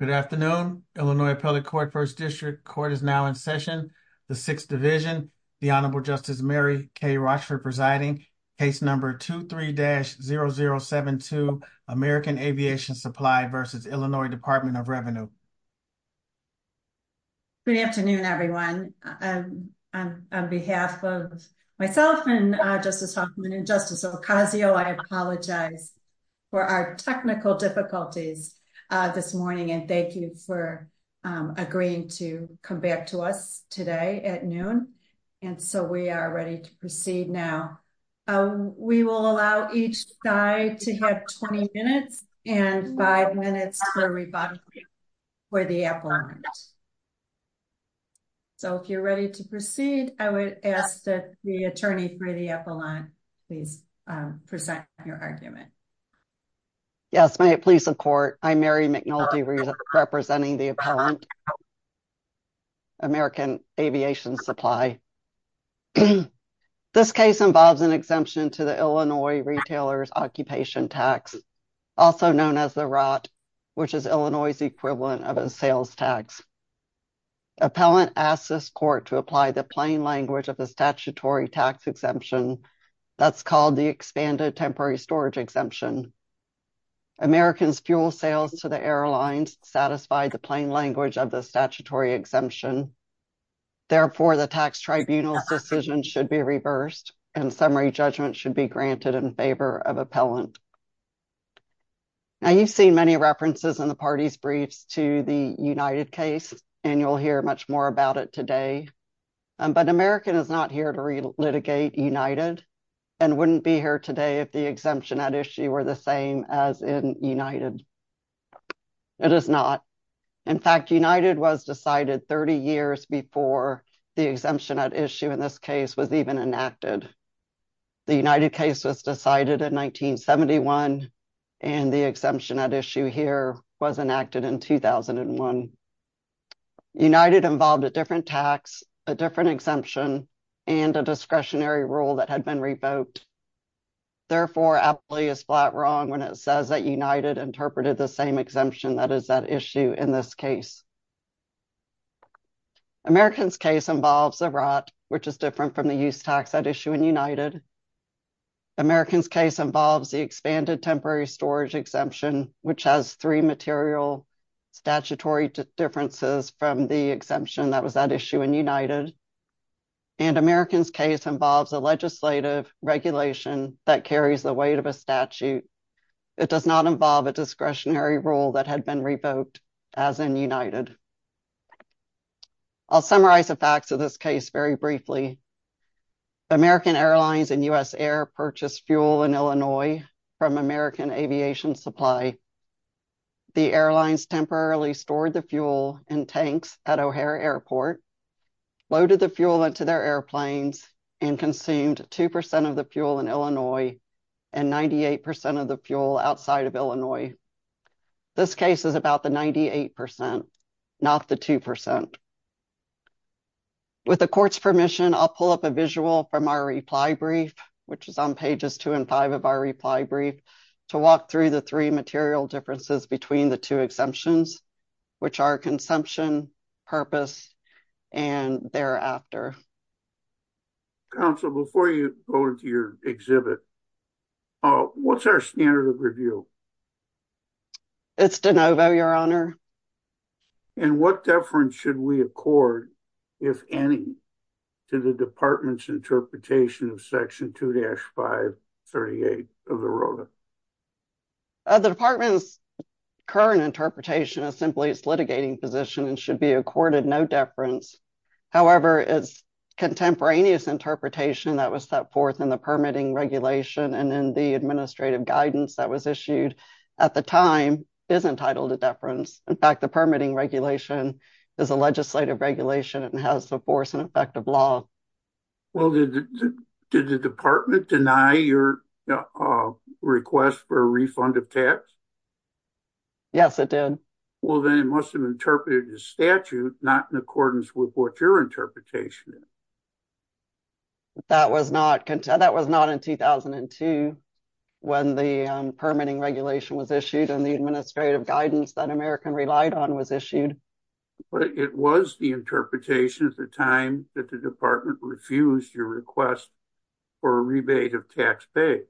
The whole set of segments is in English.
Good afternoon. Illinois Appellate Court First District Court is now in session. The Sixth Division, the Honorable Justice Mary K. Rochford presiding, case number 23-0072, American Aviation Supply v. Illinois Department of Revenue. Good afternoon, everyone. On behalf of myself and Justice Hoffman and Justice Ocasio, I apologize for our technical difficulties this morning. And thank you for agreeing to come back to us today at noon. And so we are ready to proceed now. We will allow each side to have 20 minutes and five minutes for rebuttal for the appellant. So if you're ready to proceed, I would ask that the attorney for the appellant, please present your argument. Yes, may it please the court. I'm Mary McNulty representing the appellant, American Aviation Supply. This case involves an exemption to the Illinois Retailer's Occupation Tax, also known as the ROT, which is Illinois' equivalent of a sales tax. Appellant asks this court to apply the plain language of the statutory tax exemption that's called the Expanded Temporary Storage Exemption. Americans' fuel sales to the airlines satisfy the plain language of the statutory exemption. Therefore, the tax tribunal's decision should be reversed, and summary judgment should be granted in favor of appellant. Now, you've seen many references in the party's briefs to the United case, and you'll hear much more about it today. But American is not here to re-litigate United and wouldn't be here today if the exemption at issue were the same as in United. It is not. In fact, United was decided 30 years before the exemption at issue in this case was even enacted. The United case was decided in 1971, and the exemption at issue here was enacted in 2001. United involved a different tax, a different exemption, and a discretionary rule that had been revoked. Therefore, Appley is flat wrong when it says that United interpreted the same exemption that is at issue in this case. American's case involves a ROT, which is different from the use tax at issue in United. American's case involves the expanded temporary storage exemption, which has three material statutory differences from the exemption that was at issue in United. And American's case involves a legislative regulation that carries the weight of a statute. It does not involve a discretionary rule that had been revoked as in United. I'll summarize the facts of this case very briefly. American Airlines and U.S. Air purchased fuel in Illinois from American Aviation Supply. The airlines temporarily stored the fuel in tanks at O'Hare Airport, loaded the fuel into their airplanes, and consumed 2% of the fuel in Illinois and 98% of the fuel outside of Illinois. This case is about the 98%, not the 2%. With the court's permission, I'll pull up a visual from our reply brief, which is on pages two and five of our reply brief, to walk through the three material differences between the two exemptions, which are consumption, purpose, and thereafter. Counsel, before you go into your exhibit, what's our standard of review? It's de novo, your honor. And what deference should we accord, if any, to the department's interpretation of section 2-538 of the ROTA? The department's current interpretation is simply its litigating position and should be accorded no deference. However, its contemporaneous interpretation that was set forth in the permitting regulation and in the administrative guidance that was issued at the time is entitled to deference. In fact, the permitting regulation is a legislative regulation and has the force and effect of law. Well, did the department deny your request for a refund of tax? Yes, it did. Well, then it must have interpreted the statute not in accordance with what your interpretation is. That was not in 2002 when the permitting regulation was issued and the administrative guidance that American relied on was issued. But it was the interpretation at the time that the department refused your request for a rebate of tax pay.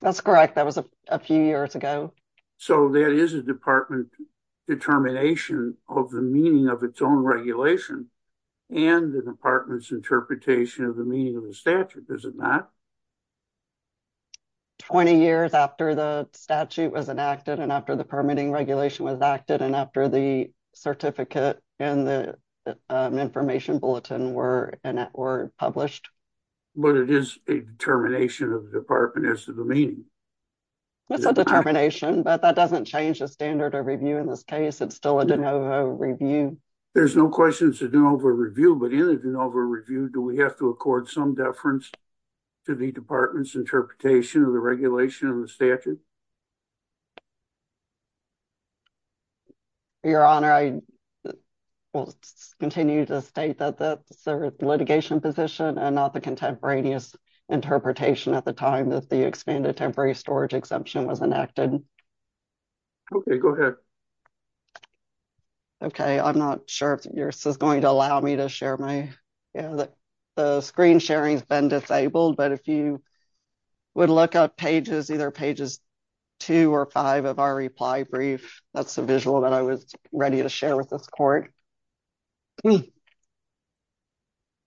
That's correct. That was a few years ago. So that is a department determination of the meaning of its own regulation and the department's interpretation of the meaning of the statute, is it not? 20 years after the statute was enacted and after the permitting regulation was acted and after the certificate and the information bulletin were published. But it is a determination of the department as to the meaning. It's a determination, but that doesn't change the standard of review in this case. It's still a de novo review. There's no question it's a de novo review, but in a de novo review, do we have to accord some deference to the department's interpretation of the regulation of the statute? Your Honor, I will continue to state that that's a litigation position and not the contemporaneous interpretation at the time that the expanded temporary storage exemption was enacted. Okay, go ahead. Okay, I'm not sure if this is going to allow me to share my, you know, the screen sharing has been disabled, but if you would look at pages, either pages two or five of our reply brief, that's the visual that I was ready to share with this court. Okay,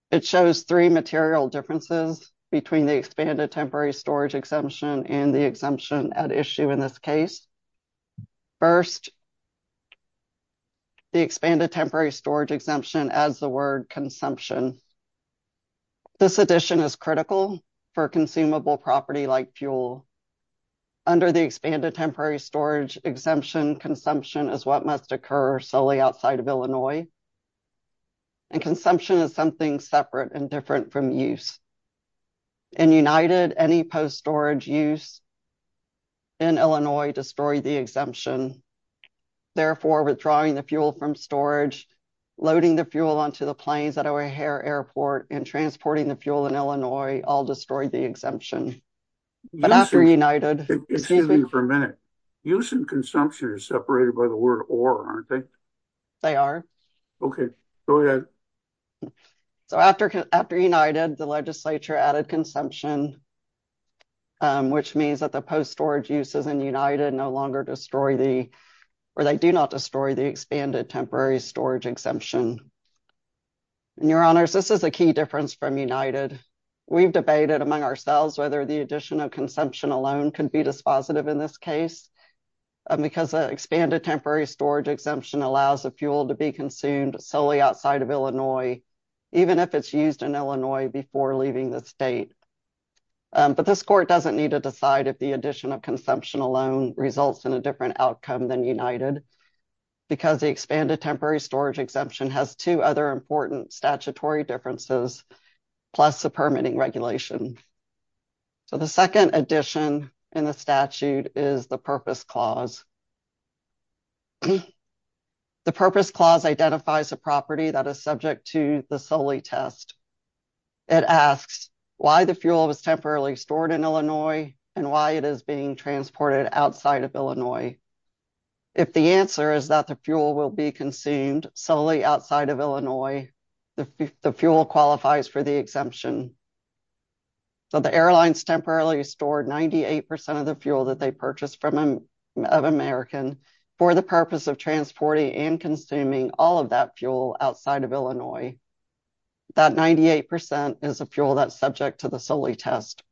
it shows three material differences between the expanded temporary storage exemption and the exemption at issue in this case. First, the expanded temporary storage exemption as the word consumption. This addition is critical for consumable property like fuel. Under the expanded temporary storage exemption, consumption is what must occur solely outside of Illinois, and consumption is something separate and different from use. In United, any post-storage use in Illinois destroyed the exemption. Therefore, withdrawing the fuel from storage, loading the fuel onto the planes at O'Hare airport and transporting the fuel in Illinois all destroyed the exemption. But after United... Excuse me for a minute. Use and consumption are separated by the word or, aren't they? They are. Okay, go ahead. So, after United, the legislature added consumption, which means that the post-storage uses in United no longer destroy the, or they do not destroy the expanded temporary storage exemption. And your honors, this is a key difference from United. We've debated among ourselves whether the addition of consumption alone can be dispositive in this case, because the expanded temporary storage exemption allows the fuel to be consumed solely outside of Illinois, even if it's used in Illinois before leaving the state. But this court doesn't need to decide if the addition of consumption alone results in a different outcome than United, because the expanded temporary storage exemption has two other important statutory differences, plus the permitting regulation. So, the second addition in the statute is the Purpose Clause. The Purpose Clause identifies a property that is subject to the Soli test. It asks why the fuel was temporarily stored in Illinois and why it is being transported outside of Illinois. If the answer is that the fuel will be consumed solely outside of Illinois, the fuel qualifies for the exemption. So, the airlines temporarily stored 98% of the fuel that they purchased from an American for the purpose of transporting and consuming all of that fuel outside of Illinois. That 98% is a fuel that's subject to the Soli test.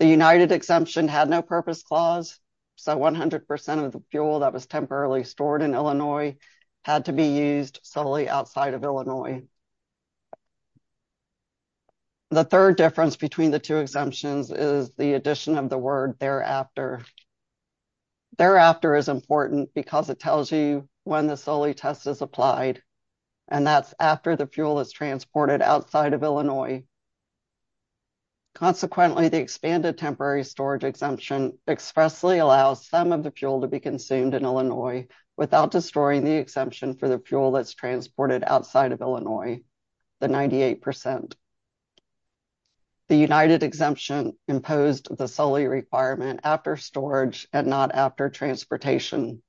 The United exemption had no Purpose Clause, so 100% of the fuel that was temporarily stored in Illinois had to be used solely outside of Illinois. The third difference between the two exemptions is the addition of the word thereafter. Thereafter is important because it tells you when the Soli test is applied, and that's after the fuel is transported outside of Illinois. Consequently, the expanded temporary storage exemption expressly allows some of the fuel to be consumed in Illinois without destroying the exemption for the fuel that's transported outside of Illinois, the 98%. The United exemption imposed the Soli requirement after storage and not after transportation.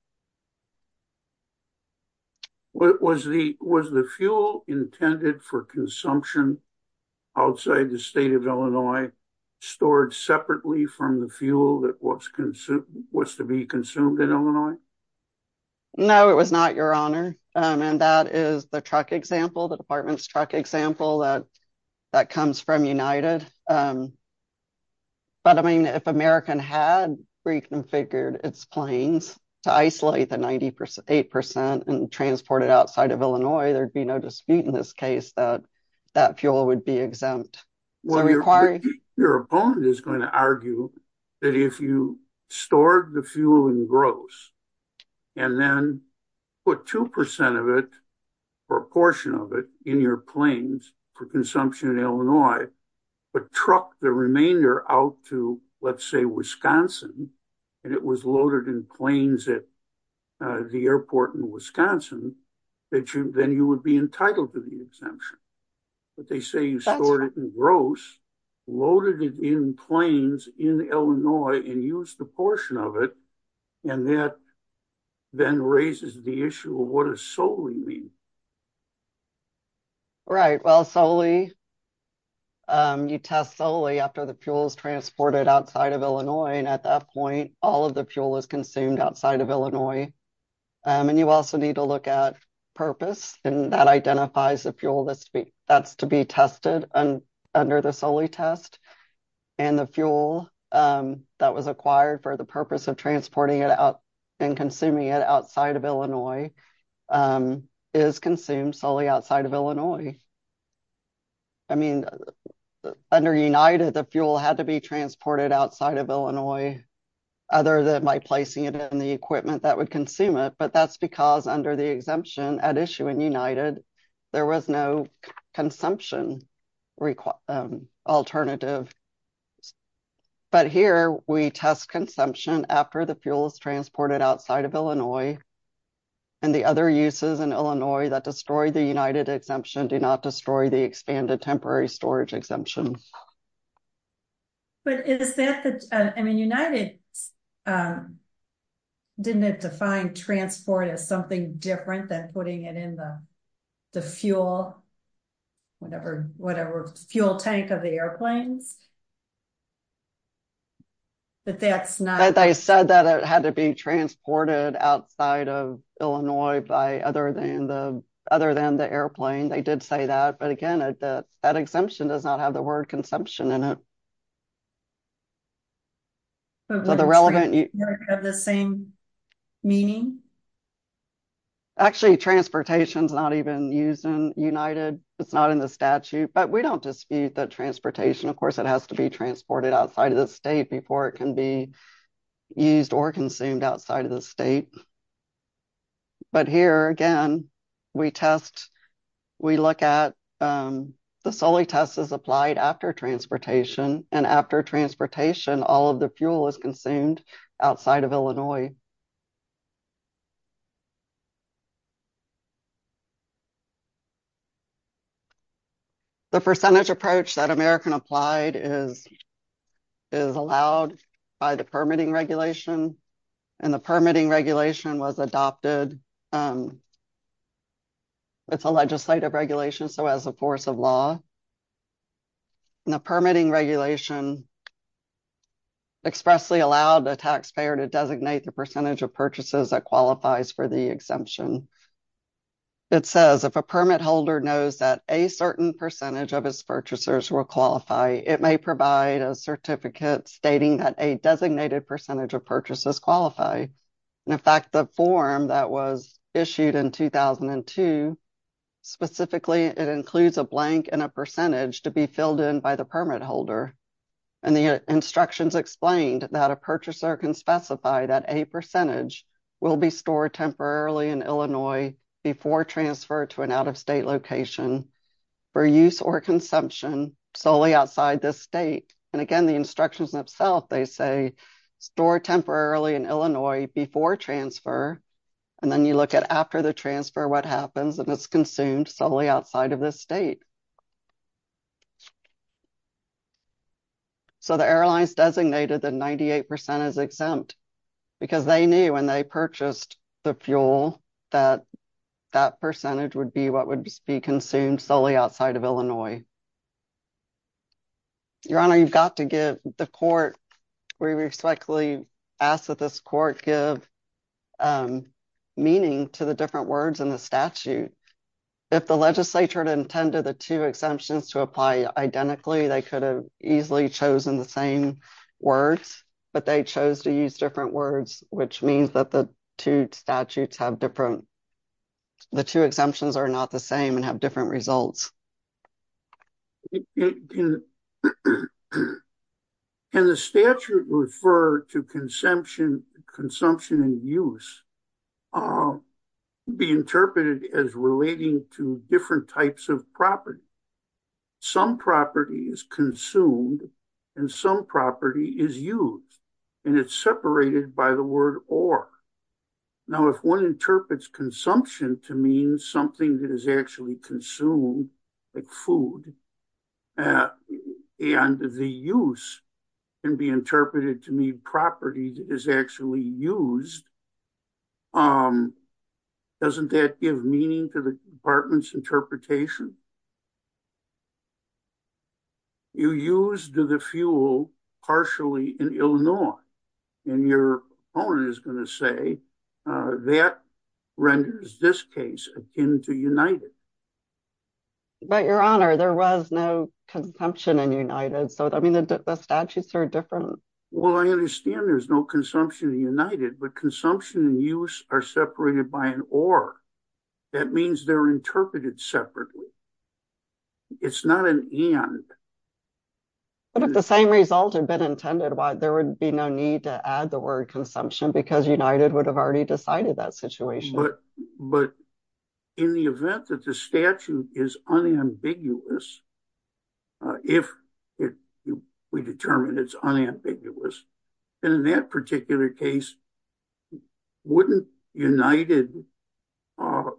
Was the fuel intended for consumption outside the state of Illinois stored separately from the fuel that was to be consumed in Illinois? No, it was not, Your Honor, and that is the truck example, the department's truck example, that comes from United. But, I mean, if American had reconfigured its planes to isolate the 98% and transport it outside of Illinois, there'd be no dispute in this case that that fuel would be exempt. Well, your opponent is going to argue that if you stored the fuel in gross, and then put 2% of it, or a portion of it, in your planes for consumption in Illinois, but truck the remainder out to, let's say, Wisconsin, and it was loaded in planes at the airport in Wisconsin, then you would be entitled to the exemption. But they say you stored it in gross, loaded it in planes in Illinois, and used a portion of it, and that then raises the issue of what does Soli mean? Right, well, Soli, you test Soli after the fuel is transported outside of Illinois, and at that point, all of the fuel is consumed outside of Illinois. And you also need to look at purpose, and that identifies the fuel that's to be tested under the Soli test, and the fuel that was acquired for the purpose of transporting it out and consuming it outside of Illinois is consumed solely outside of Illinois. I mean, under United, the fuel had to be transported outside of Illinois, other than by placing it in the equipment that would consume it, but that's because under the exemption at issue in United, there was no consumption alternative. But here, we test consumption after the fuel is transported outside of Illinois, and the other uses in Illinois that destroy the United exemption do not destroy the United. Didn't it define transport as something different than putting it in the fuel, whatever, fuel tank of the airplanes? But they said that it had to be transported outside of Illinois by other than the airplane, they did say that, but again, that exemption does not have the word consumption in it. So the relevant, you have the same meaning. Actually, transportation is not even used in United, it's not in the statute, but we don't dispute that transportation, of course, it has to be transported outside of the state before it can be used or consumed outside of the state. But here, again, we test, we look at the Soli test is outside of Illinois. The percentage approach that American applied is allowed by the permitting regulation, and the permitting regulation was adopted. It's a legislative regulation, so as a force of law, and the permitting regulation expressly allowed the taxpayer to designate the percentage of purchases that qualifies for the exemption. It says if a permit holder knows that a certain percentage of his purchasers will qualify, it may provide a certificate stating that a designated percentage of purchases qualify. In fact, the form that was issued in 2002, specifically, it includes a blank and a instructions explained that a purchaser can specify that a percentage will be stored temporarily in Illinois before transfer to an out-of-state location for use or consumption solely outside the state. And again, the instructions themselves, they say store temporarily in Illinois before transfer. And then you look at after the transfer, what happens if it's consumed solely outside of the state. So, the airlines designated that 98% is exempt because they knew when they purchased the fuel that that percentage would be what would be consumed solely outside of Illinois. Your Honor, you've got to give the court, we respectfully ask that this court give meaning to the different words in the statute. If the legislature had intended the two exemptions to apply identically, they could have easily chosen the same words, but they chose to use different words, which means that the two statutes have different, the two exemptions are not the same and have different results. Can the statute refer to consumption and use be interpreted as different types of property? Some property is consumed and some property is used and it's separated by the word or. Now, if one interprets consumption to mean something that is actually consumed, like food, and the use can be interpreted to mean property that is actually used, um, doesn't that give meaning to the department's interpretation? You used the fuel partially in Illinois, and your opponent is going to say that renders this case akin to United. But Your Honor, there was no consumption in United, so I mean the statutes are different. Well, I understand there's no consumption in United, but consumption and use are separated by an or. That means they're interpreted separately. It's not an and. But if the same result had been intended, why, there would be no need to add the word consumption, because United would have already decided that situation. But in the event that the statute is unambiguous, if we determine it's unambiguous, then in that particular case, wouldn't United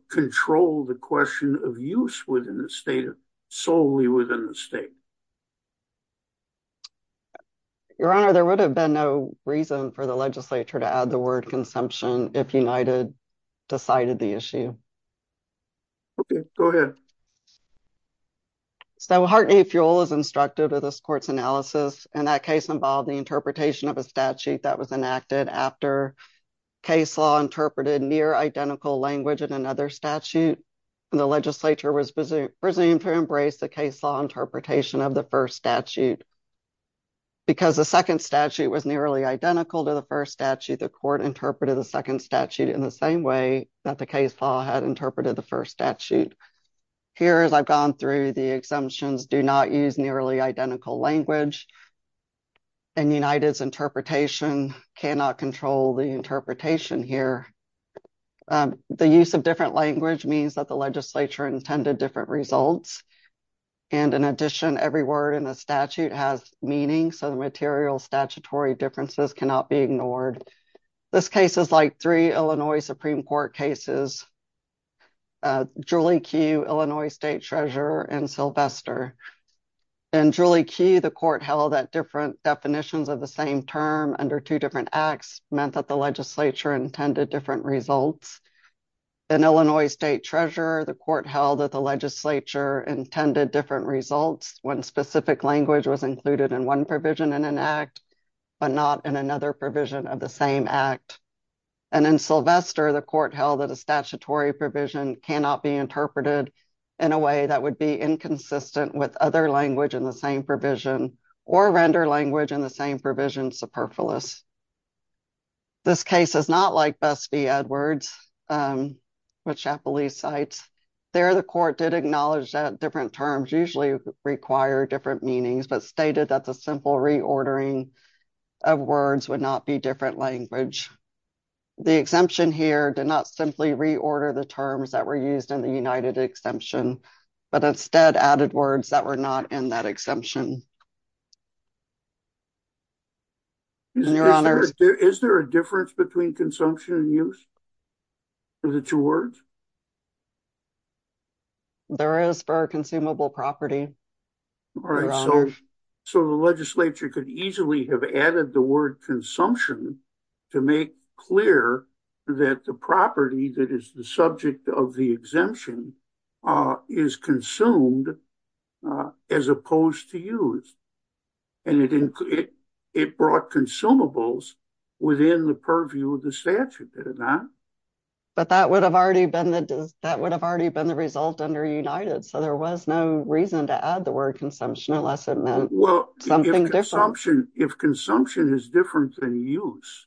control the question of use within the state, solely within the state? Your Honor, there would have been no reason for the legislature to add the word consumption if United decided the issue. Okay, go ahead. So Hartney Fuel is instructive of this court's analysis, and that case involved the interpretation of a statute that was enacted after case law interpreted near identical language in another statute, and the legislature was presumed to embrace the case law interpretation of the first statute. Because the second statute was nearly identical to the first statute, the court interpreted the second statute in the same way that the case law had interpreted the first statute. Here, as I've gone through, the exemptions do not use nearly identical language, and United's interpretation cannot control the interpretation here. The use of different language means that the legislature intended different results, and in addition, every word in the statute has meaning, so the material statutory differences cannot be ignored. This case is like three Illinois Supreme Court cases, Julie Key, Illinois State Treasurer, and Sylvester. In Julie Key, the court held that different definitions of the same term under two different acts meant that the legislature intended different results. In Illinois State Treasurer, the court held that the legislature intended different results when specific language was included in one provision in an act, but not in another provision of the same act. And in Sylvester, the court held that a statutory provision cannot be interpreted in a way that would be inconsistent with other language in the same provision, or render language in the same provision superfluous. This case is not like Bess v. Edwards, which Chapellee cites. There, the court did acknowledge that different terms usually require different meanings, but stated that the simple reordering of words would not be different language. The exemption here did not simply reorder the terms that were used in the United Exemption, but instead added words that were not in that exemption. Is there a difference between consumption and use of the two words? There is for consumable property. All right, so the legislature could easily have added the word consumption to make clear that the property that is the subject of the exemption is consumed as opposed to used. And it brought consumables within the purview of the statute, did it not? But that would have already been the result under United, so there was no reason to add the word consumption unless it meant something different. If consumption is different than use,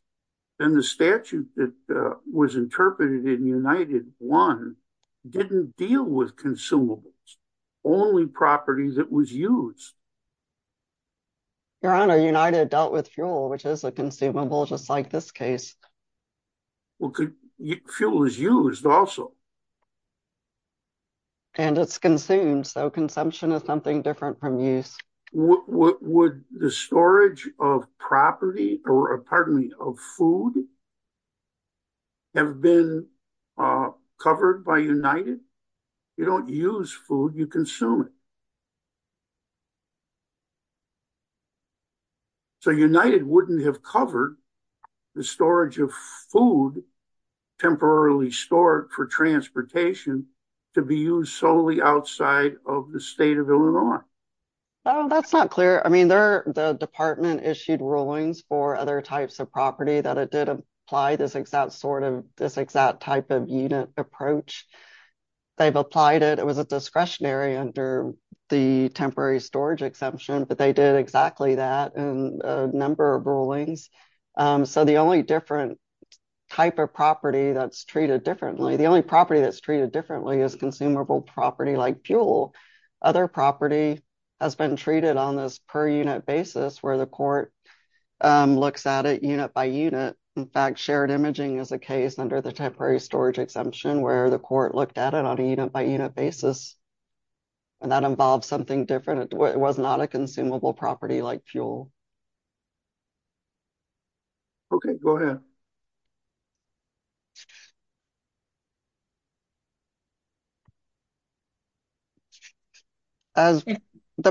then the statute that was interpreted in United 1 didn't deal with consumables, only property that was used. Your Honor, United dealt with fuel, which is a consumable, just like this case. Well, fuel is used also. And it's consumed, so consumption is something different from use. Would the storage of property, or pardon me, of food, have been covered by United? You don't use food, you consume it. So, United wouldn't have covered the storage of food, temporarily stored for transportation, to be used solely outside of the state of Illinois. Oh, that's not clear. I mean, the department issued rulings for other types of property that it did apply this exact sort of, this exact type of unit approach. They've applied it. It was discretionary under the temporary storage exemption, but they did exactly that in a number of rulings. So, the only different type of property that's treated differently, the only property that's treated differently is consumable property like fuel. Other property has been treated on this per unit basis, where the court looks at it unit by unit. In fact, shared imaging is a case under the temporary storage exemption, where the court looked at it on a unit by unit basis, and that involves something different. It was not a consumable property like fuel. Okay, go ahead. If you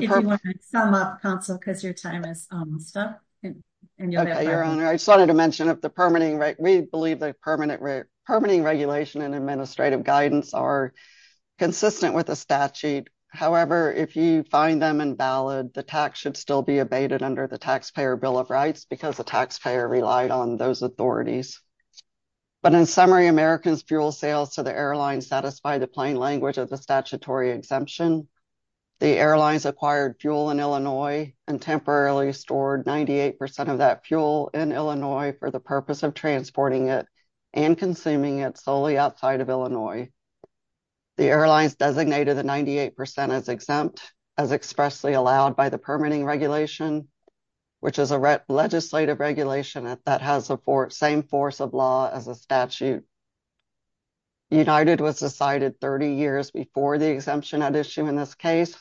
want to sum up, counsel, because your time is almost up. Okay, Your Honor. I just wanted to mention that we believe the permanent regulation and administrative guidance are consistent with the statute. However, if you find them invalid, the tax should still be abated under the Taxpayer Bill of Rights, because the taxpayer relied on those authorities. But in summary, American's fuel sales to the airline satisfy the plain language of the statutory exemption. The airlines acquired fuel in Illinois and temporarily stored 98% of that fuel in Illinois for the purpose of transporting it and consuming it solely outside of Illinois. The airlines designated the 98% as exempt, as expressly allowed by the permitting regulation, which is a legislative regulation that has the same force of law as a statute. United was decided 30 years before the exemption at issue in this case.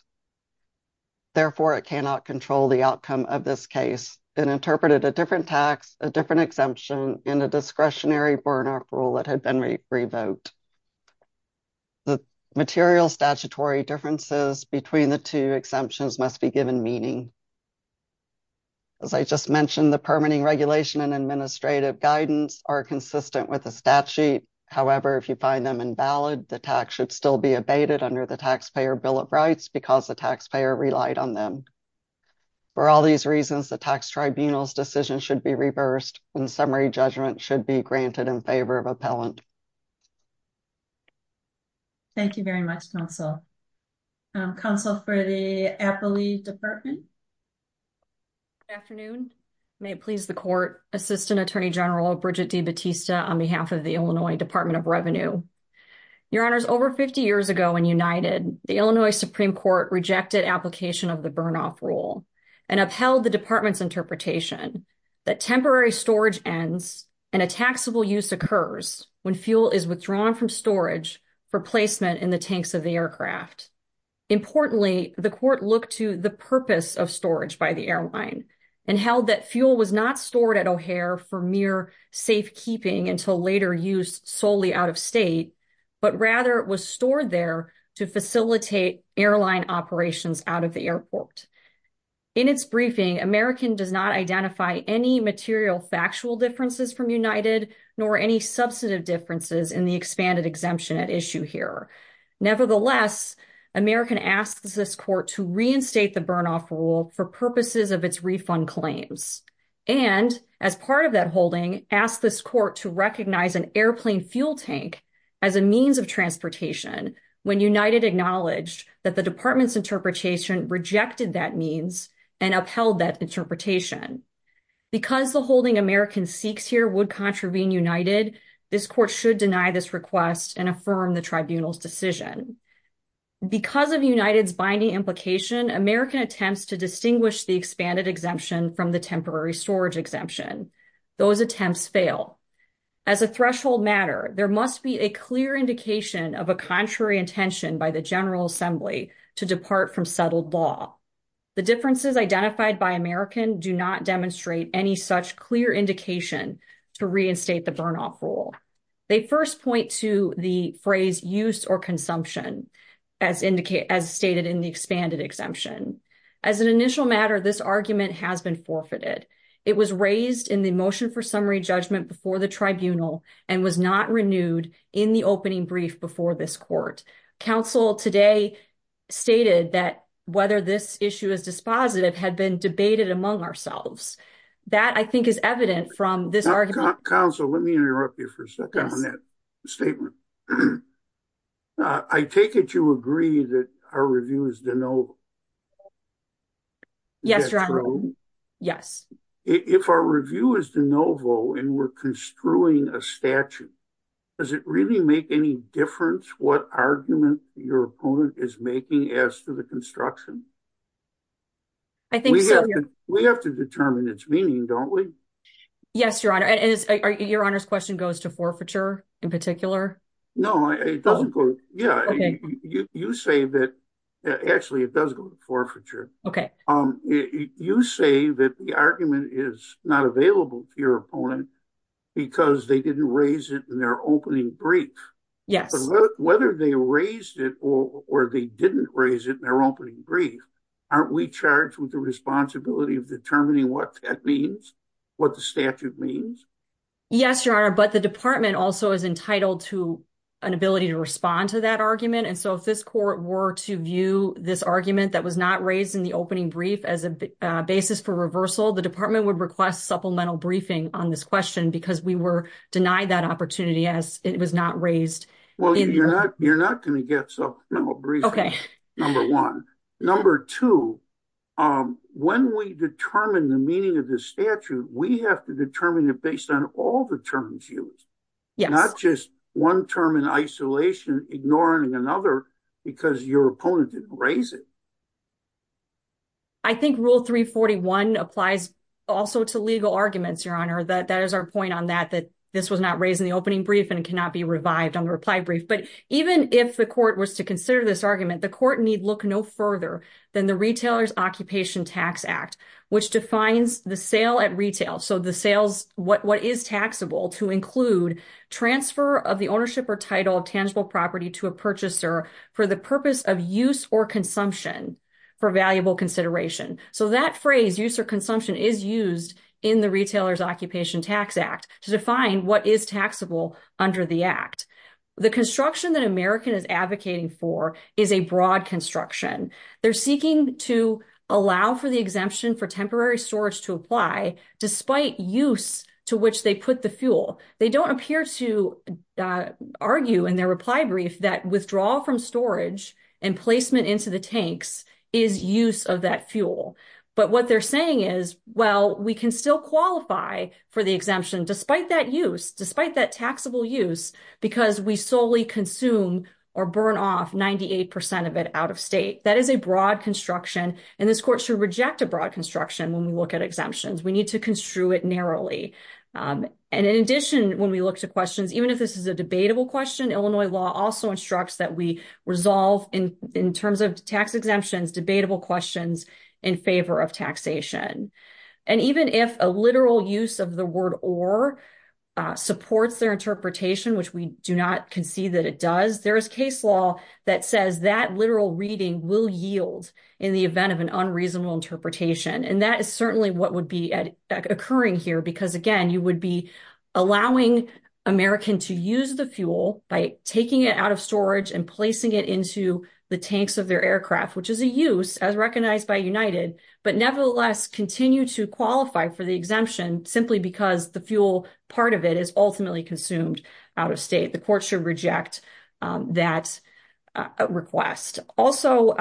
Therefore, it cannot control the outcome of this case. It interpreted a different tax, a different exemption, and a discretionary burn-off rule that had been revoked. The material statutory differences between the two exemptions must be given meaning. As I just mentioned, the permitting regulation and administrative guidance are consistent with the statute. However, if you find them invalid, the tax should still be abated under the Taxpayer Bill of Rights, because the taxpayer relied on them. For all these reasons, the Tax Tribunal's decision should be reversed, and summary judgment should be granted in favor of appellant. Thank you very much, Counsel. Counsel for the Appellee Department. Good afternoon. May it please the Court, Assistant Attorney General Bridget D. Batista, on behalf of the Illinois Department of Revenue. Your Honors, over 50 years ago in United, the Illinois Supreme Court rejected application of the burn-off rule and upheld the Department's interpretation that temporary storage ends and a taxable use occurs when fuel is withdrawn from storage for placement in the tanks of the aircraft. Importantly, the Court looked to the purpose of storage by the airline and held that fuel was not stored at O'Hare for mere safekeeping until later used solely out of state, but rather it was stored there to facilitate airline operations out of the airport. In its briefing, American does not identify any material factual differences from United nor any substantive differences in the expanded exemption at issue here. Nevertheless, American asks this Court to reinstate the burn-off rule for purposes of refund claims. And, as part of that holding, ask this Court to recognize an airplane fuel tank as a means of transportation when United acknowledged that the Department's interpretation rejected that means and upheld that interpretation. Because the holding American seeks here would contravene United, this Court should deny this request and affirm the Tribunal's to distinguish the expanded exemption from the temporary storage exemption. Those attempts fail. As a threshold matter, there must be a clear indication of a contrary intention by the General Assembly to depart from settled law. The differences identified by American do not demonstrate any such clear indication to reinstate the burn-off rule. They first point to the phrase use or consumption, as stated in the expanded exemption. As an initial matter, this argument has been forfeited. It was raised in the motion for summary judgment before the Tribunal and was not renewed in the opening brief before this Court. Counsel today stated that whether this issue is dispositive had been debated among ourselves. That, I think, is evident from this statement. I take it you agree that our review is de novo? Yes, Your Honor. Is that true? Yes. If our review is de novo and we're construing a statute, does it really make any difference what argument your opponent is making as to the construction? I think so. We have to determine its meaning, don't we? Yes, Your Honor. Your Honor's question goes to forfeiture in particular? No, it doesn't. You say that the argument is not available to your opponent because they didn't raise it in their opening brief. Whether they raised it or they didn't raise it in their opening brief, aren't we charged with the responsibility of determining what that means? What the statute means? Yes, Your Honor, but the Department also is entitled to an ability to respond to that argument. If this Court were to view this argument that was not raised in the opening brief as a basis for reversal, the Department would request supplemental briefing on this question because we were denied that opportunity as it was not raised. Well, you're not going to get supplemental briefing, number one. Number two, when we determine the meaning of this statute, we have to determine it based on all the terms used, not just one term in isolation, ignoring another because your opponent didn't raise it. I think Rule 341 applies also to legal arguments, Your Honor. That is our point on that, that this was not raised in the opening brief. But even if the Court was to consider this argument, the Court need look no further than the Retailer's Occupation Tax Act, which defines the sale at retail. So the sales, what is taxable to include transfer of the ownership or title of tangible property to a purchaser for the purpose of use or consumption for valuable consideration. So that phrase, use or consumption, is used in the Retailer's Occupation Tax Act to define what is taxable under the Act. The construction that American is advocating for is a broad construction. They're seeking to allow for the exemption for temporary storage to apply despite use to which they put the fuel. They don't appear to argue in their reply brief that withdrawal from storage and placement into the tanks is use of that fuel. But what they're saying is, well, we can still qualify for the we solely consume or burn off 98% of it out of state. That is a broad construction, and this Court should reject a broad construction when we look at exemptions. We need to construe it narrowly. And in addition, when we look to questions, even if this is a debatable question, Illinois law also instructs that we resolve in terms of tax exemptions debatable questions in favor of taxation. And even if a literal use of the word or supports their interpretation, which we do not concede that it does, there is case law that says that literal reading will yield in the event of an unreasonable interpretation. And that is certainly what would be occurring here. Because again, you would be allowing American to use the fuel by taking it out of storage and placing it into the tanks of their aircraft, which is a use as recognized by United, but nevertheless continue to qualify for the exemption simply because the fuel part of it is ultimately consumed out of state. The Court should reject that request. Also,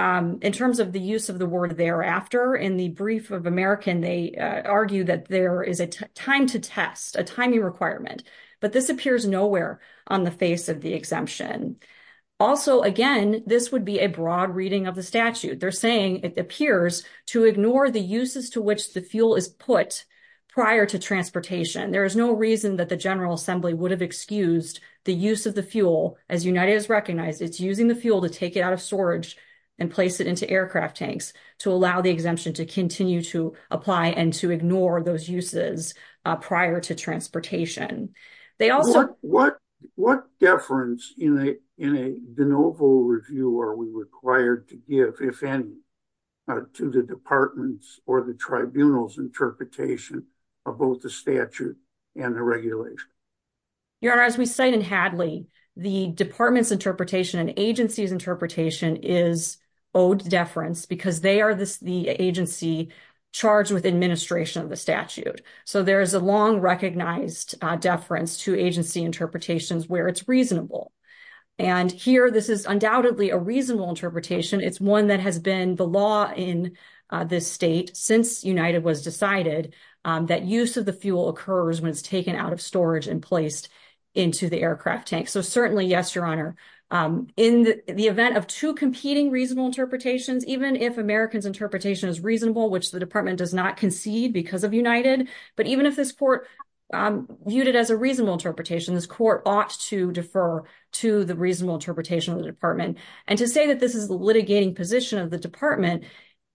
in terms of the use of the word thereafter in the brief of American, they argue that there is a time to test, a timing requirement, but this appears nowhere on the face of the exemption. Also, again, this would be a broad reading of the statute. They're saying it appears to ignore the uses to which the fuel is prior to transportation. There is no reason that the General Assembly would have excused the use of the fuel. As United has recognized, it's using the fuel to take it out of storage and place it into aircraft tanks to allow the exemption to continue to apply and to ignore those uses prior to transportation. They also- What deference in a de novo review are we required to give, if any, to the department's or the tribunal's interpretation of both the statute and the regulation? Your Honor, as we cite in Hadley, the department's interpretation and agency's interpretation is owed deference because they are the agency charged with administration of the statute. So, there is a long recognized deference to agency interpretations where it's one that has been the law in this state since United was decided that use of the fuel occurs when it's taken out of storage and placed into the aircraft tank. So, certainly, yes, Your Honor. In the event of two competing reasonable interpretations, even if American's interpretation is reasonable, which the department does not concede because of United, but even if this court viewed it as a reasonable interpretation, this court ought to defer to the litigation position of the department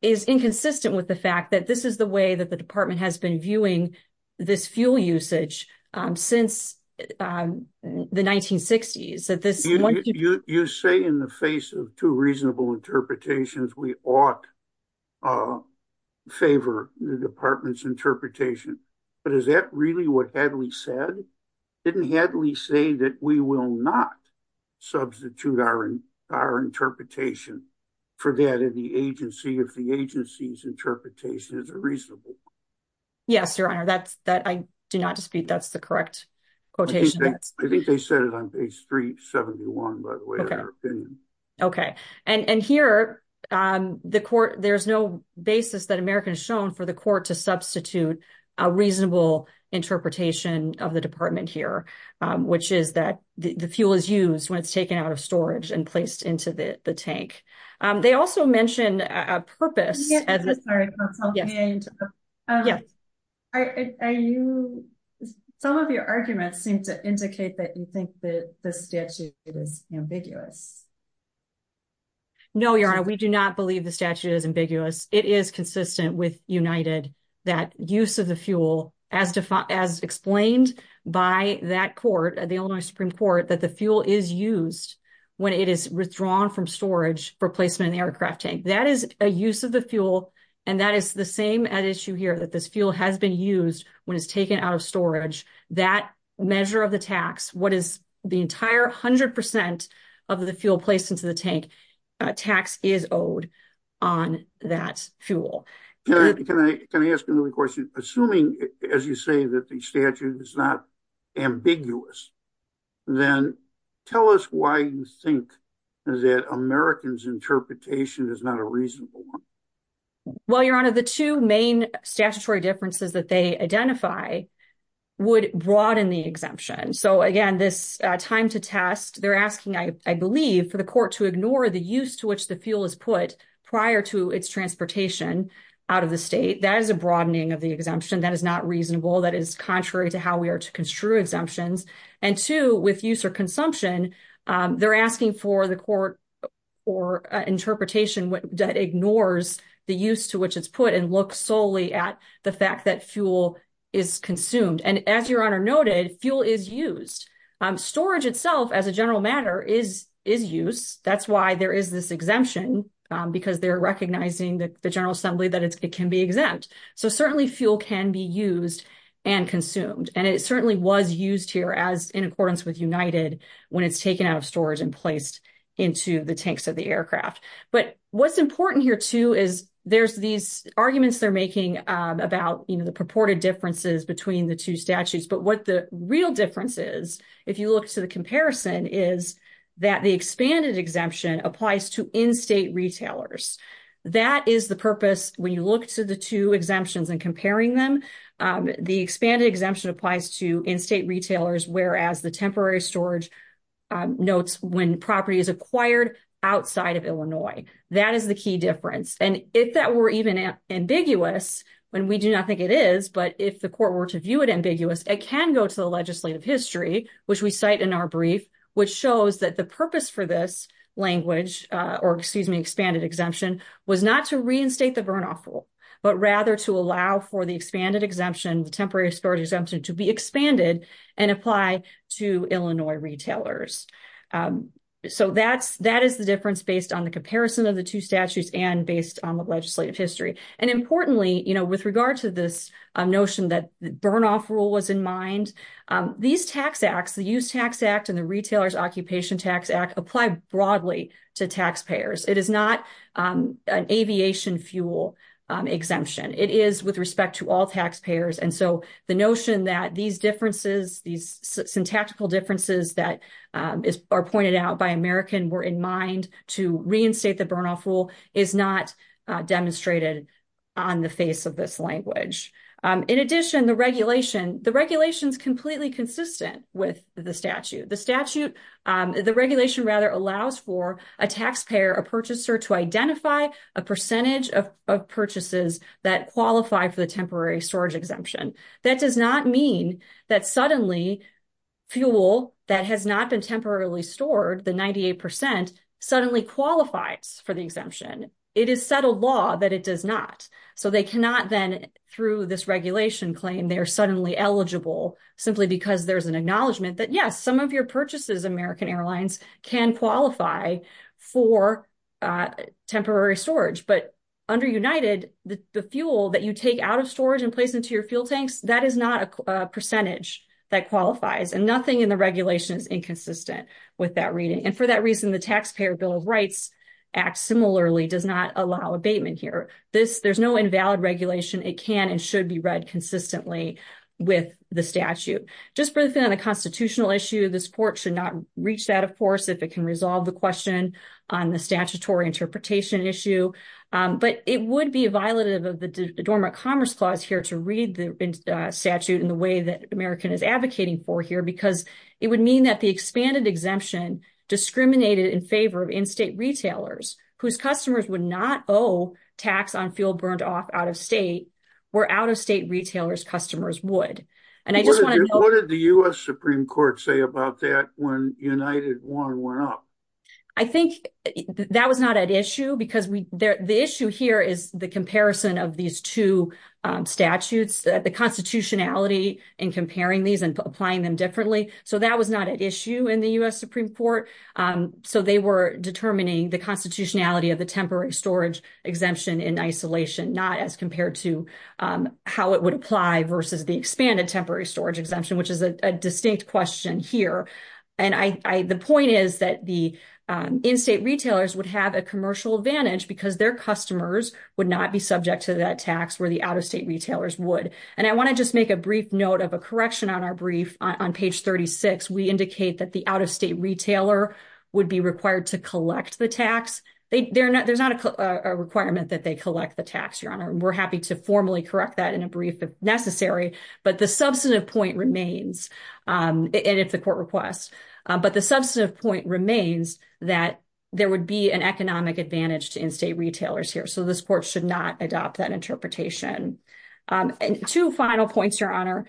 is inconsistent with the fact that this is the way that the department has been viewing this fuel usage since the 1960s. You say in the face of two reasonable interpretations, we ought to favor the department's interpretation, but is that really what Hadley said? Didn't Hadley say that we will not substitute our interpretation for that of the agency if the agency's interpretation is reasonable? Yes, Your Honor. I do not dispute that's the correct quotation. I think they said it on page 371, by the way, in their opinion. Okay. And here, there's no basis that American has shown for the court to substitute reasonable interpretation of the department here, which is that the fuel is used when it's taken out of storage and placed into the tank. They also mentioned a purpose. Some of your arguments seem to indicate that you think that the statute is ambiguous. No, Your Honor, we do not believe the statute is ambiguous. It is consistent with United that use of the fuel, as explained by that court, the Illinois Supreme Court, that the fuel is used when it is withdrawn from storage for placement in the aircraft tank. That is a use of the fuel, and that is the same at issue here, that this fuel has been used when it's taken out of storage. That measure of the tax, what is the entire 100 percent of the fuel placed into the tank, tax is owed on that fuel. Can I ask another question? Assuming, as you say, that the statute is not ambiguous, then tell us why you think that American's interpretation is not a reasonable one. Well, Your Honor, the two main statutory differences that they identify would broaden the exemption. So again, this time to test, they're asking, I believe, for the court to ignore the use to which the fuel is put prior to its transportation out of the state. That is a broadening of the exemption. That is not reasonable. That is contrary to how we are to construe exemptions. And two, with use or consumption, they're asking for the court or interpretation that ignores the use to which it's put and looks solely at the fact that fuel is consumed. And as a general matter, is use. That's why there is this exemption, because they're recognizing the General Assembly that it can be exempt. So certainly fuel can be used and consumed. And it certainly was used here as in accordance with United when it's taken out of storage and placed into the tanks of the aircraft. But what's important here too is there's these arguments they're making about the purported differences between the two statutes. But what the real difference is, if you look to the comparison, is that the expanded exemption applies to in-state retailers. That is the purpose when you look to the two exemptions and comparing them. The expanded exemption applies to in-state retailers, whereas the temporary storage notes when property is acquired outside of Illinois. That is the key difference. And if that were even ambiguous, when we do not think it is, but if the court were to view it ambiguous, it can go to the legislative history, which we cite in our brief, which shows that the purpose for this language, or excuse me, expanded exemption, was not to reinstate the burn-off rule, but rather to allow for the expanded exemption, the temporary storage exemption, to be expanded and apply to Illinois retailers. So that is the difference based on the comparison of the two statutes and based on the legislative history. And importantly, you know, with regard to this notion that the state has in mind, these tax acts, the Use Tax Act and the Retailer's Occupation Tax Act, apply broadly to taxpayers. It is not an aviation fuel exemption. It is with respect to all taxpayers. And so the notion that these differences, these syntactical differences that are pointed out by American were in mind to reinstate the burn-off rule, is not demonstrated on the face of this The regulation is completely consistent with the statute. The statute, the regulation rather, allows for a taxpayer, a purchaser, to identify a percentage of purchases that qualify for the temporary storage exemption. That does not mean that suddenly fuel that has not been temporarily stored, the 98 percent, suddenly qualifies for the exemption. It is settled law that it does not. So they cannot then, through this regulation claim, they are suddenly eligible simply because there's an acknowledgement that, yes, some of your purchases, American Airlines, can qualify for temporary storage. But under United, the fuel that you take out of storage and place into your fuel tanks, that is not a percentage that qualifies. And nothing in the regulation is inconsistent with that reading. And for that reason, the Taxpayer Bill of Rights Act similarly does not allow abatement here. There's no read consistently with the statute. Just briefly on the constitutional issue, this court should not reach that, of course, if it can resolve the question on the statutory interpretation issue. But it would be a violative of the Dormant Commerce Clause here to read the statute in the way that American is advocating for here because it would mean that the expanded exemption discriminated in favor of in-state retailers whose customers would not owe tax on fuel burned off out of state, where out-of-state retailers' customers would. And I just want to know- What did the U.S. Supreme Court say about that when United 1 went up? I think that was not an issue because the issue here is the comparison of these two statutes, the constitutionality in comparing these and applying them differently. So that was not an issue in the U.S. Supreme Court. So they were determining the constitutionality of the temporary storage exemption in isolation, not as compared to how it would apply versus the expanded temporary storage exemption, which is a distinct question here. And the point is that the in-state retailers would have a commercial advantage because their customers would not be subject to that tax where the out-of-state retailers would. And I want to just make a brief note of a correction on our brief. On page 36, we indicate that the out-of-state retailer would be required to collect the tax. There's not a requirement that they collect the tax, Your Honor. We're happy to formally correct that in a brief if necessary. But the substantive point remains, and it's a court request, but the substantive point remains that there would be an economic advantage to in-state retailers here. So this court should not adopt that interpretation. And two final points, Your Honor.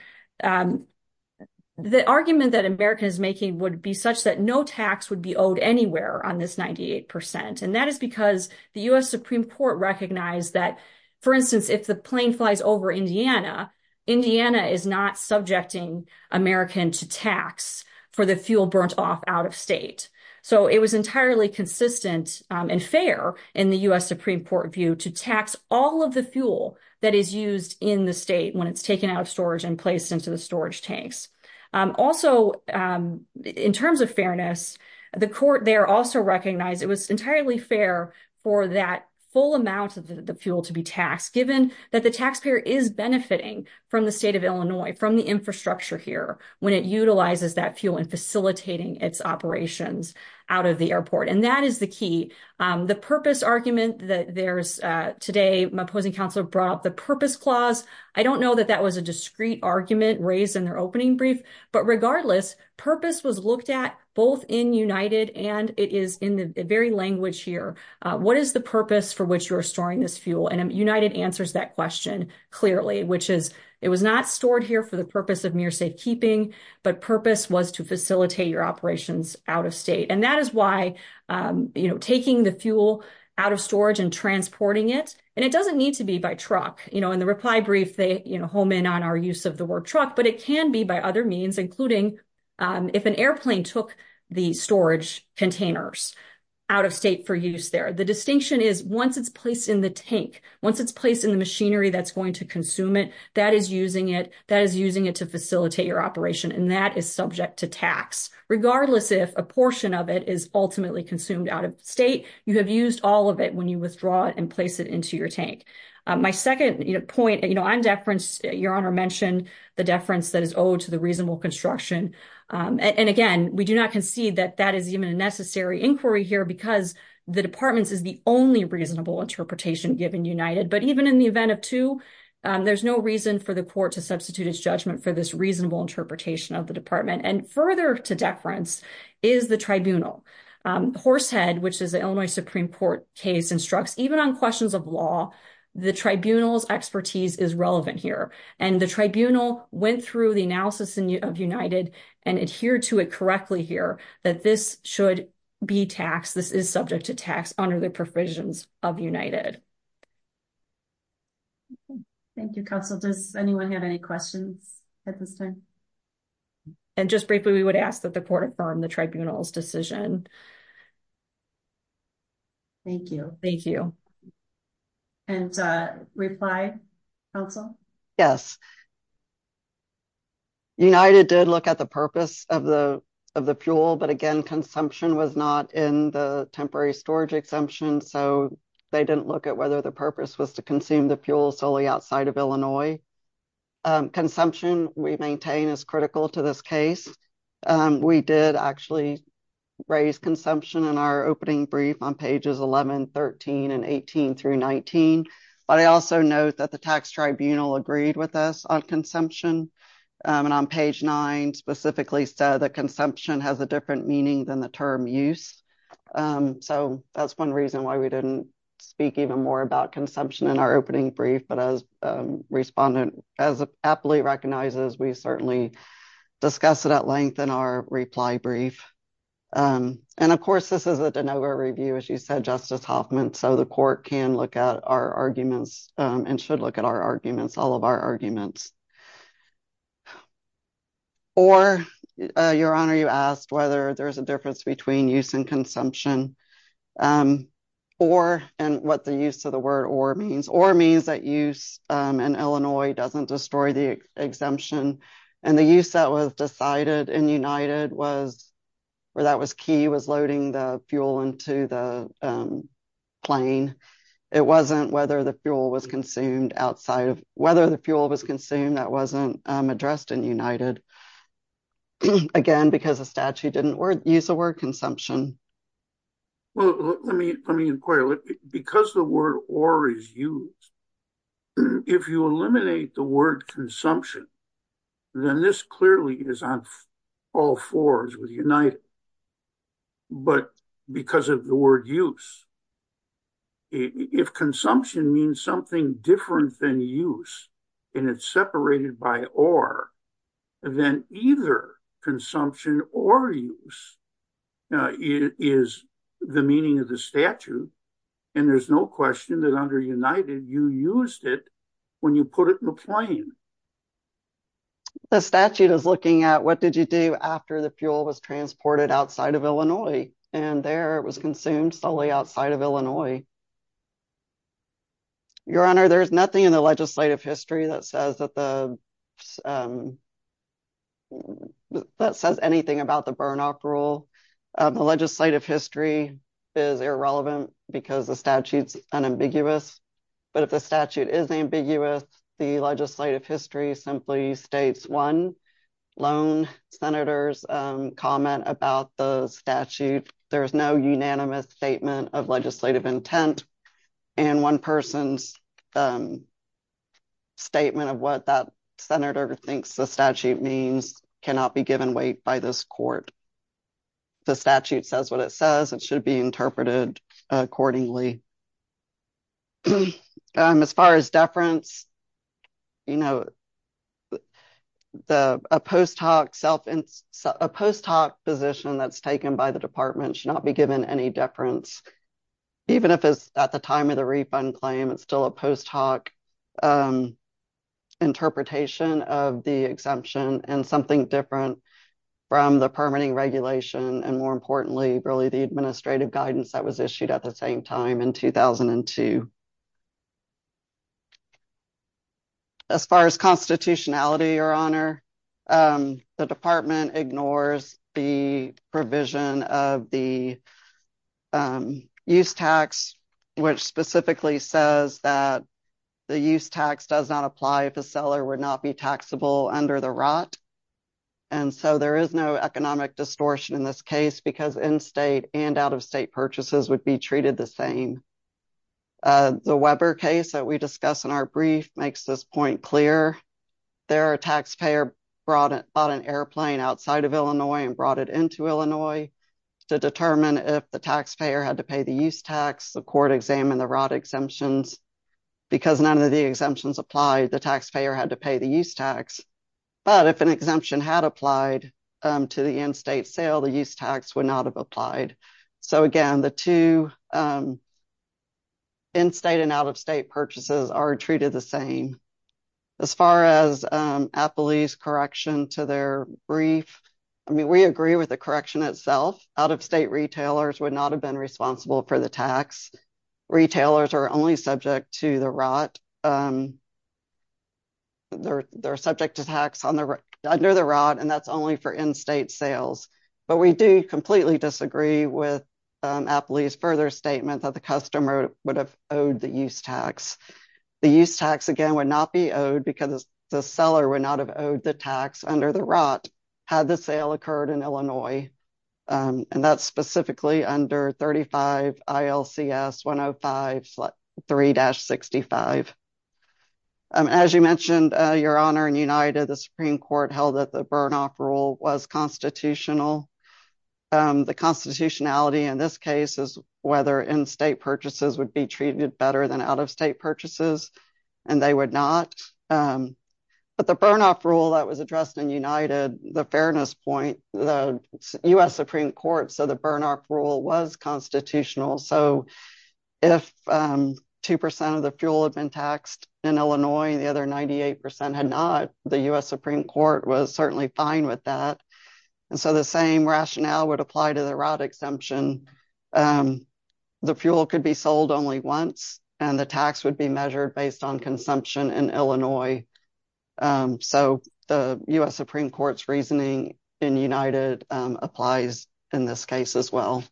The argument that America is making would be such that no tax would be owed anywhere on this 98%. And that is because the U.S. Supreme Court recognized that, for instance, if the plane flies over Indiana, Indiana is not subjecting American to tax for the fuel burnt off out-of-state. So it was entirely consistent and fair in the U.S. Supreme Court view to tax all of the fuel that is used in the state when it's taken out of storage and placed into the storage tanks. Also, in terms of fairness, the court there also recognized it was entirely fair for that full amount of the fuel to be taxed, given that the taxpayer is benefiting from the state of Illinois, from the infrastructure here, when it utilizes that fuel in facilitating its operations out of the airport. And that is the key. The purpose argument that there's today, my opposing counsel brought up the purpose clause. I don't know that that was a discrete argument raised in opening brief. But regardless, purpose was looked at both in United and it is in the very language here. What is the purpose for which you are storing this fuel? And United answers that question clearly, which is it was not stored here for the purpose of mere safekeeping, but purpose was to facilitate your operations out of state. And that is why taking the fuel out of storage and transporting it, and it doesn't need to be by truck. In the reply brief, they home in on our use of the word truck, but it can be by other means, including if an airplane took the storage containers out of state for use there. The distinction is once it's placed in the tank, once it's placed in the machinery that's going to consume it, that is using it, that is using it to facilitate your operation, and that is subject to tax. Regardless, if a portion of it is ultimately consumed out of state, you have used all of it when you withdraw it and place it into your tank. My second point, on deference, Your Honor mentioned the deference that is owed to the reasonable construction. And again, we do not concede that that is even a necessary inquiry here because the department's is the only reasonable interpretation given United. But even in the event of two, there's no reason for the court to substitute its judgment for this reasonable interpretation of the department. And further to deference is the tribunal. Horsehead, which is the Illinois Supreme Court case, instructs even on questions of law, the tribunal's expertise is relevant here. And the tribunal went through the analysis of United and adhered to it correctly here that this should be taxed, this is subject to tax under the provisions of United. Thank you, counsel. Does anyone have any questions at this time? And just briefly, we would ask that the court affirm the tribunal's decision. Thank you. Thank you. And reply, counsel? Yes. United did look at the purpose of the of the fuel. But again, consumption was not in the temporary storage exemption. So they didn't look at whether the purpose was to consume the fuel solely outside of Illinois. Consumption we maintain is critical to this case. We did actually raise consumption in our opening brief on pages 1113 and 18 through 19. But I also note that the tax tribunal agreed with us on consumption. And on page nine specifically said that consumption has a different meaning than the term use. So that's one reason why we didn't speak even more about respondent as aptly recognizes, we certainly discuss it at length in our reply brief. And of course, this is a de novo review, as you said, Justice Hoffman, so the court can look at our arguments and should look at our arguments, all of our arguments. Or your honor, you asked whether there's a difference between use and consumption or and what the use of the word or means or means that use in Illinois doesn't destroy the exemption. And the use that was decided in United was where that was key was loading the fuel into the plane. It wasn't whether the fuel was consumed outside of whether the fuel was consumed that wasn't addressed in United. Again, because the statute didn't use the word consumption. Well, let me let me inquire, because the word or is used. If you eliminate the word consumption, then this clearly is on all fours with United. But because of the word use, if consumption means something different than use, and it's separated by or then either consumption or use is the meaning of the statute. And there's no question that under United, you used it when you put it in the plane. The statute is looking at what did you do after the fuel was transported outside of Illinois, and there was consumed solely outside of Illinois. Your honor, there's nothing in the legislative history that says that the that says anything about the burnout rule. The legislative history is irrelevant because the statute's unambiguous. But if the statute is ambiguous, the legislative history simply states one lone senator's comment about the statute. There is no unanimous statement of legislative senator thinks the statute means cannot be given weight by this court. The statute says what it says it should be interpreted accordingly. As far as deference, you know, the post hoc self and post hoc position that's taken by the department should not be given any deference. Even if it's at the time of the refund claim, it's still a post hoc interpretation of the exemption and something different from the permitting regulation and more importantly, really, the administrative guidance that was issued at the same time in 2002. As far as constitutionality, your honor, the department ignores the provision of the use tax, which specifically says that the use tax does not apply if a seller would not be taxable under the rot. And so there is no economic distortion in this case because in state and out of state purchases would be treated the same. The Weber case that we discussed in our brief makes this point clear. There are taxpayer brought it on an airplane outside of Illinois and brought it into Illinois to determine if the taxpayer had to pay the use tax. The court examined the rot exemptions because none of the exemptions applied. The taxpayer had to pay the use tax. But if an exemption had applied to the end state sale, the use tax would not have applied. So again, the two in state and out of state purchases are treated the same. As far as Appley's correction to their brief, I mean, we agree with the correction itself. Out of state retailers would not have been responsible for the tax. Retailers are only subject to the rot. They're subject to tax under the rot and that's only for in state sales. But we do completely disagree with Appley's further statement that the customer would have used tax. The use tax again would not be owed because the seller would not have owed the tax under the rot had the sale occurred in Illinois. And that's specifically under 35 ILCS 105.3-65. As you mentioned, Your Honor, in United, the Supreme Court held that the burn off rule was constitutional. The constitutionality in this case is whether in state purchases would be treated better than out of state purchases, and they would not. But the burn off rule that was addressed in United, the fairness point, the U.S. Supreme Court said the burn off rule was constitutional. So if 2% of the fuel had been taxed in Illinois, the other 98% had not, the U.S. Supreme Court was certainly fine with that. And so the same rationale would apply to the rot exemption. The fuel could be sold only once and the tax would be measured based on consumption in Illinois. So the U.S. Supreme Court's reasoning in United applies in this case as well.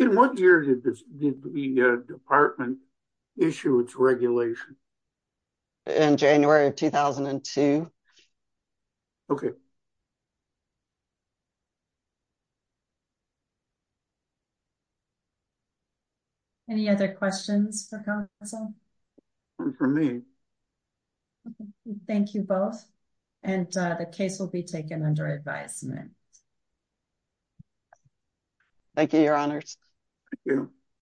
In what year did the department issue its regulation? In January of 2002. Okay. Any other questions for counsel? For me. Thank you both. And the case will be taken under advisement. Thank you, Your Honors.